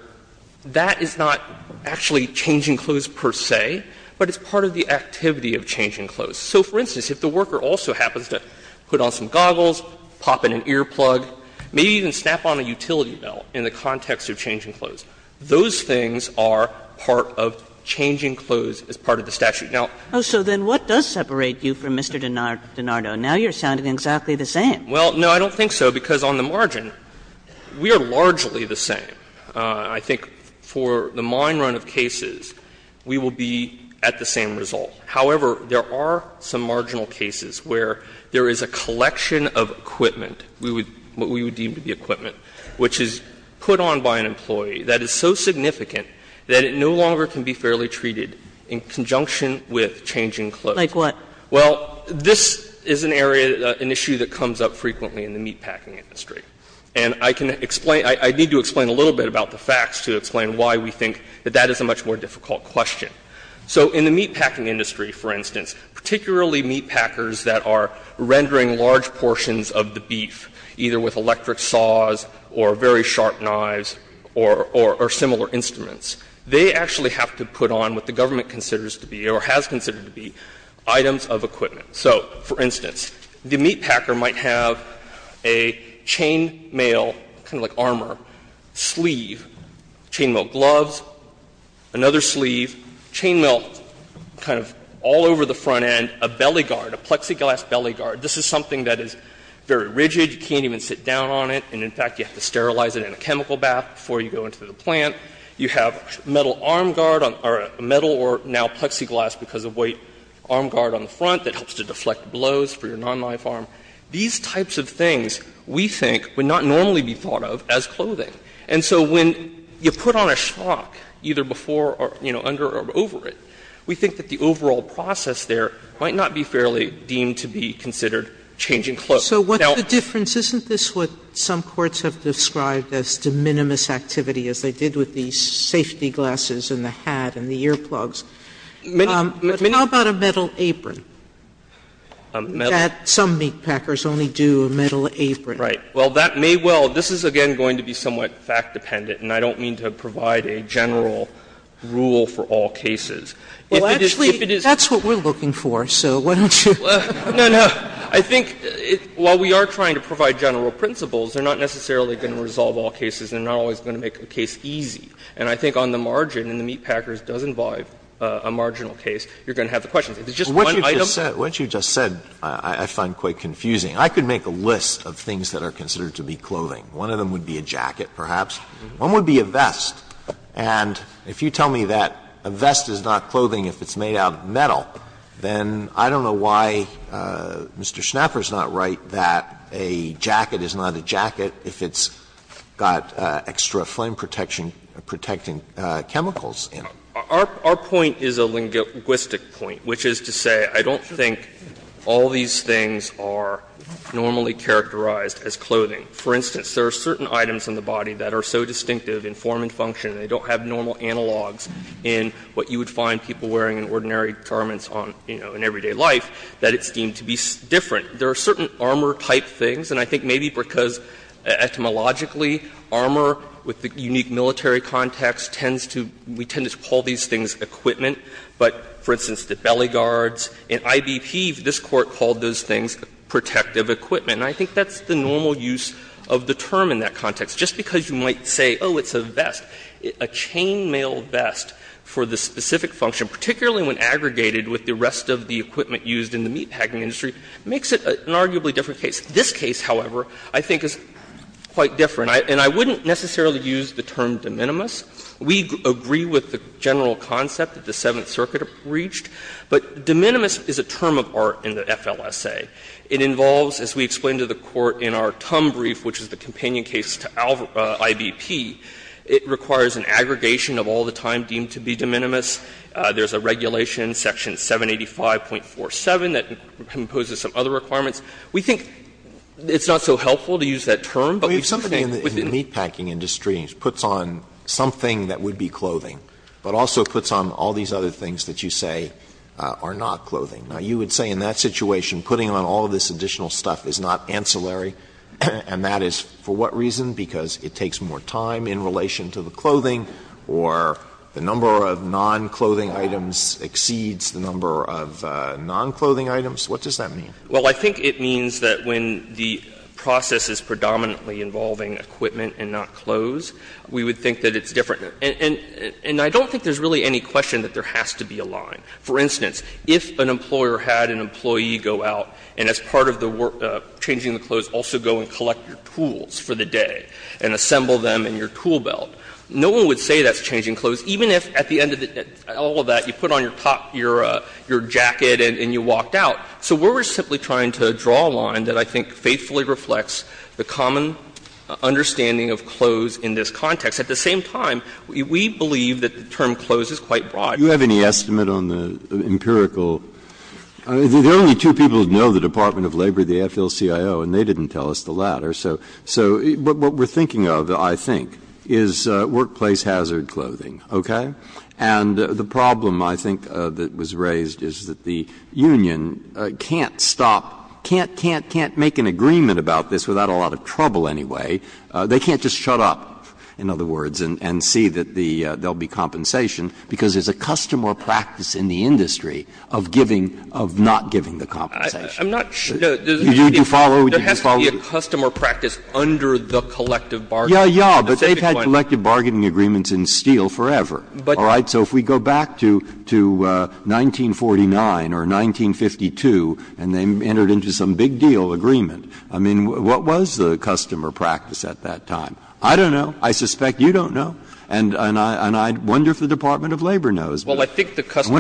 that is not actually changing clothes per se, but it's part of the activity of changing clothes. So, for instance, if the worker also happens to put on some goggles, pop in an ear plug, maybe even snap on a utility belt in the context of changing clothes, those things are part of changing clothes as part of the statute. Now, Kagan Oh, so then what does separate you from Mr. DiNardo? Now you're sounding exactly the same. Yang Well, no, I don't think so, because on the margin, we are largely the same. I think for the mine run of cases, we will be at the same result. However, there are some marginal cases where there is a collection of equipment, what we would deem to be equipment, which is put on by an employee that is so significant that it no longer can be fairly treated in conjunction with changing clothes. Kagan Like what? Yang Well, this is an area, an issue that comes up frequently in the meatpacking industry. And I can explain — I need to explain a little bit about the facts to explain why we think that that is a much more difficult question. So in the meatpacking industry, for instance, particularly meatpackers that are rendering large portions of the beef, either with electric saws or very sharp knives or similar instruments, they actually have to put on what the government considers to be, or has considered to be, items of equipment. So, for instance, the meatpacker might have a chain mail, kind of like armor, sleeve, chain mail gloves, another sleeve, chain mail kind of all over the front end, a belly guard, a plexiglass belly guard. This is something that is very rigid. You can't even sit down on it. And in fact, you have to sterilize it in a chemical bath before you go into the plant. You have metal arm guard, or metal or now plexiglass because of weight, arm guard on the front that helps to deflect blows for your non-life arm. These types of things, we think, would not normally be thought of as clothing. And so when you put on a shock, either before or, you know, under or over it, we think that the overall process there might not be fairly deemed to be considered changing clothes. Now the difference, isn't this what some courts have described as de minimis activity as they did with the safety glasses and the hat and the earplugs? How about a metal apron? That some meatpackers only do a metal apron. Well, that may well, this is again going to be somewhat fact dependent, and I don't mean to provide a general rule for all cases. Well, actually, that's what we're looking for, so why don't you? No, no. I think while we are trying to provide general principles, they're not necessarily going to resolve all cases. They're not always going to make a case easy. And I think on the margin, and the meatpackers does involve a marginal case, you're going to have the questions. If it's just one item. Alito, what you just said I find quite confusing. I could make a list of things that are considered to be clothing. One of them would be a jacket, perhaps. One would be a vest. And if you tell me that a vest is not clothing if it's made out of metal, then I don't know why Mr. Schnapper is not right that a jacket is not a jacket if it's got extra flame protection, protecting chemicals in it. Our point is a linguistic point, which is to say I don't think all these things are normally characterized as clothing. For instance, there are certain items in the body that are so distinctive in form and function, they don't have normal analogs in what you would find people wearing in ordinary garments on, you know, in everyday life, that it's deemed to be different. There are certain armor-type things, and I think maybe because etymologically armor, with the unique military context, tends to, we tend to call these things equipment. But, for instance, the belly guards, in I.B.P., this Court called those things protective equipment. And I think that's the normal use of the term in that context. Just because you might say, oh, it's a vest, a chainmail vest for the specific function, particularly when aggregated with the rest of the equipment used in the meatpacking industry, makes it an arguably different case. This case, however, I think is quite different. And I wouldn't necessarily use the term de minimis. We agree with the general concept that the Seventh Circuit reached, but de minimis is a term of art in the FLSA. It involves, as we explained to the Court in our TUM brief, which is the companion case to I.B.P., it requires an aggregation of all the time deemed to be de minimis, there's a regulation, section 785.47, that imposes some other requirements. We think it's not so helpful to use that term, but we think within the meatpacking industry puts on something that would be clothing, but also puts on all these other things that you say are not clothing. Now, you would say in that situation, putting on all this additional stuff is not ancillary, and that is for what reason? Because it takes more time in relation to the clothing, or the number of non-clothing items exceeds the number of non-clothing items? What does that mean? Well, I think it means that when the process is predominantly involving equipment and not clothes, we would think that it's different. And I don't think there's really any question that there has to be a line. For instance, if an employer had an employee go out and as part of the work, changing the clothes, also go and collect your tools for the day, and assemble them in your tool belt, no one would say that's changing clothes, even if at the end of all of that you put on your top, your jacket, and you walked out. So we're simply trying to draw a line that I think faithfully reflects the common understanding of clothes in this context. At the same time, we believe that the term clothes is quite broad. Breyer, do you have any estimate on the empirical – there are only two people who know the Department of Labor, the AFL-CIO, and they didn't tell us the latter. So what we're thinking of, I think, is workplace hazard clothing, okay? And the problem I think that was raised is that the union can't stop, can't, can't, can't make an agreement about this without a lot of trouble anyway. They can't just shut up, in other words, and see that the – there will be compensation, because there's a custom or practice in the industry of giving, of not giving the right to change. There has to be a custom or practice under the collective bargaining. Breyer, but they've had collective bargaining agreements in steel forever, all right? So if we go back to 1949 or 1952 and they entered into some big deal agreement, I mean, what was the custom or practice at that time? I don't know. I suspect you don't know, and I wonder if the Department of Labor knows. I wonder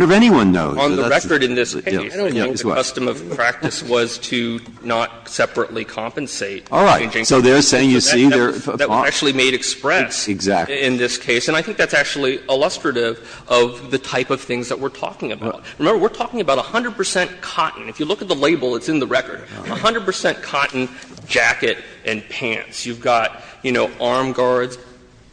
if anyone knows. On the record in this case, I don't think the custom or practice was to not separately compensate. All right. So they're saying, you see, they're – That was actually made express in this case. And I think that's actually illustrative of the type of things that we're talking about. Remember, we're talking about 100 percent cotton. If you look at the label, it's in the record, 100 percent cotton jacket and pants. You've got, you know, arm guards,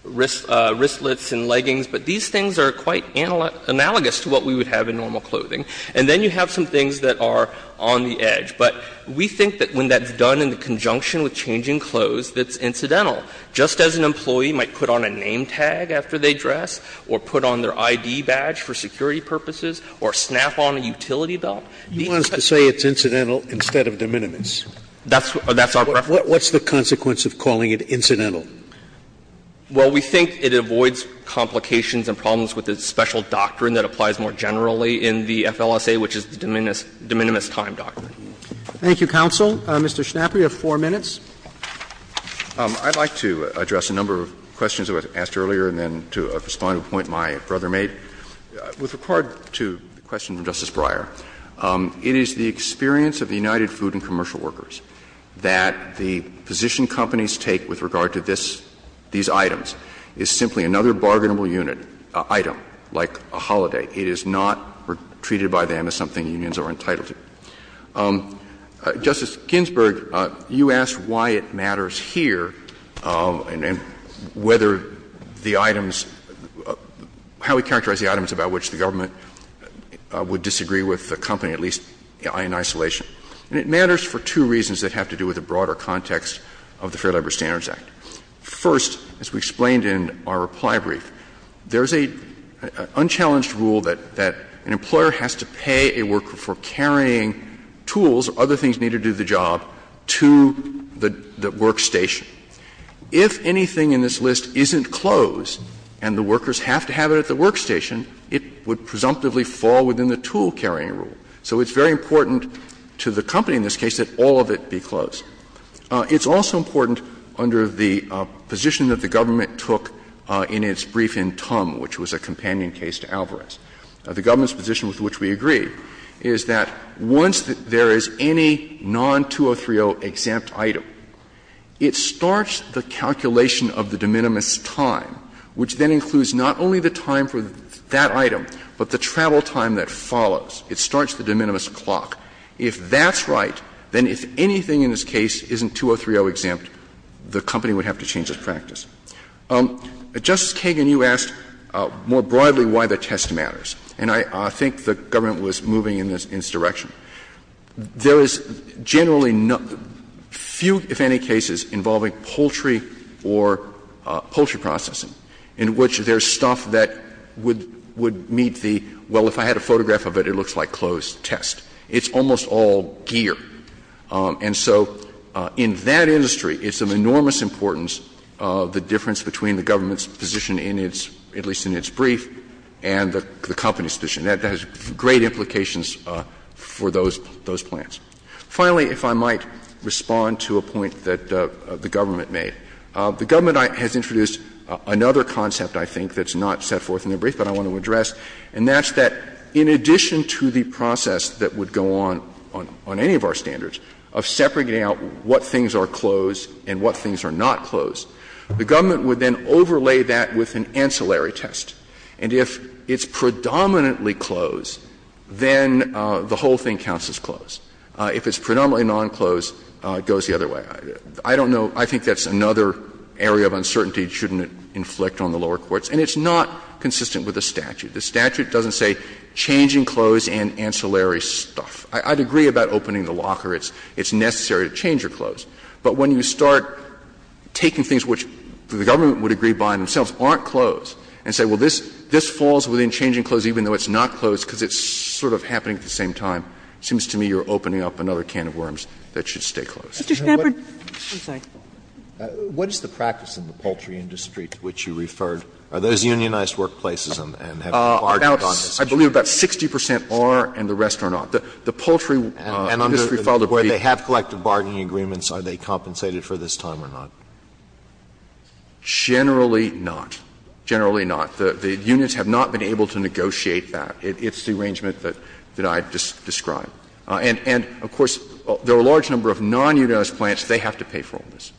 wristlets and leggings. But these things are quite analogous to what we would have in normal clothing. And then you have some things that are on the edge. But we think that when that's done in conjunction with changing clothes, that's incidental. Just as an employee might put on a name tag after they dress or put on their ID badge for security purposes or snap on a utility belt, these types of things are incidental. Sotomayor, you want us to say it's incidental instead of de minimis. That's our preference. What's the consequence of calling it incidental? Well, we think it avoids complications and problems with the special doctrine that applies more generally in the FLSA, which is the de minimis time doctrine. Roberts. Thank you, counsel. Mr. Schnapper, you have 4 minutes. I'd like to address a number of questions that were asked earlier and then to a responding point my brother made. With regard to the question from Justice Breyer, it is the experience of the United States Food and Commercial Workers that the position companies take with regard to this, these items, is simply another bargainable unit, item, like a holiday. It is not treated by them as something unions are entitled to. Justice Ginsburg, you asked why it matters here and whether the items, how we characterize the items about which the government would disagree with the company, at least in isolation. And it matters for two reasons that have to do with the broader context of the Fair Labor Standards Act. First, as we explained in our reply brief, there is an unchallenged rule that an employer has to pay a worker for carrying tools or other things needed to do the job to the workstation. If anything in this list isn't closed and the workers have to have it at the workstation, it would presumptively fall within the tool-carrying rule. So it's very important to the company in this case that all of it be closed. It's also important under the position that the government took in its brief in Tum, which was a companion case to Alvarez. The government's position with which we agree is that once there is any non-2030 exempt item, it starts the calculation of the de minimis time, which then includes not only the time for that item, but the travel time that follows. It starts the de minimis clock. If that's right, then if anything in this case isn't 2030 exempt, the company would have to change its practice. Justice Kagan, you asked more broadly why the test matters, and I think the government was moving in this direction. There is generally few, if any, cases involving poultry or poultry processing in which there is stuff that would meet the, well, if I had a photograph of it, it looks like closed test. It's almost all gear. And so in that industry, it's of enormous importance the difference between the government's position in its, at least in its brief, and the company's position. That has great implications for those plans. Finally, if I might respond to a point that the government made. The government has introduced another concept, I think, that's not set forth in the brief, but I want to address. And that's that in addition to the process that would go on on any of our standards of separating out what things are closed and what things are not closed, the government would then overlay that with an ancillary test. And if it's predominantly closed, then the whole thing counts as closed. If it's predominantly non-closed, it goes the other way. I don't know. I think that's another area of uncertainty it shouldn't inflict on the lower courts. And it's not consistent with the statute. The statute doesn't say changing clothes and ancillary stuff. I'd agree about opening the locker. It's necessary to change your clothes. But when you start taking things which the government would agree by themselves aren't closed, and say, well, this falls within changing clothes even though it's not closed because it's sort of happening at the same time, it seems to me you're opening up another can of worms that should stay closed. Kagan, what is the practice in the poultry industry to which you referred? Are those unionized workplaces and have they bargained on this? I believe about 60 percent are and the rest are not. The poultry industry filed a brief. And under where they have collected bargaining agreements, are they compensated for this time or not? Generally not. Generally not. The unions have not been able to negotiate that. It's the arrangement that I just described. And of course, there are a large number of non-unionized plants. They have to pay for all this.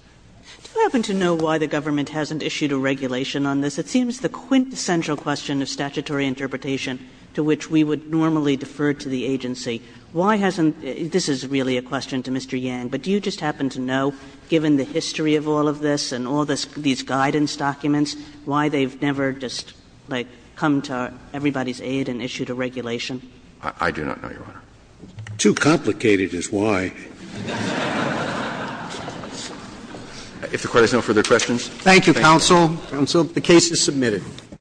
Do you happen to know why the government hasn't issued a regulation on this? It seems the quintessential question of statutory interpretation to which we would normally defer to the agency, why hasn't this is really a question to Mr. Yang, but do you just happen to know, given the history of all of this and all these guidance documents, why they've never just, like, come to everybody's aid and issued a regulation? I do not know, Your Honor. Too complicated is why. If the Court has no further questions. Thank you, counsel. The case is submitted.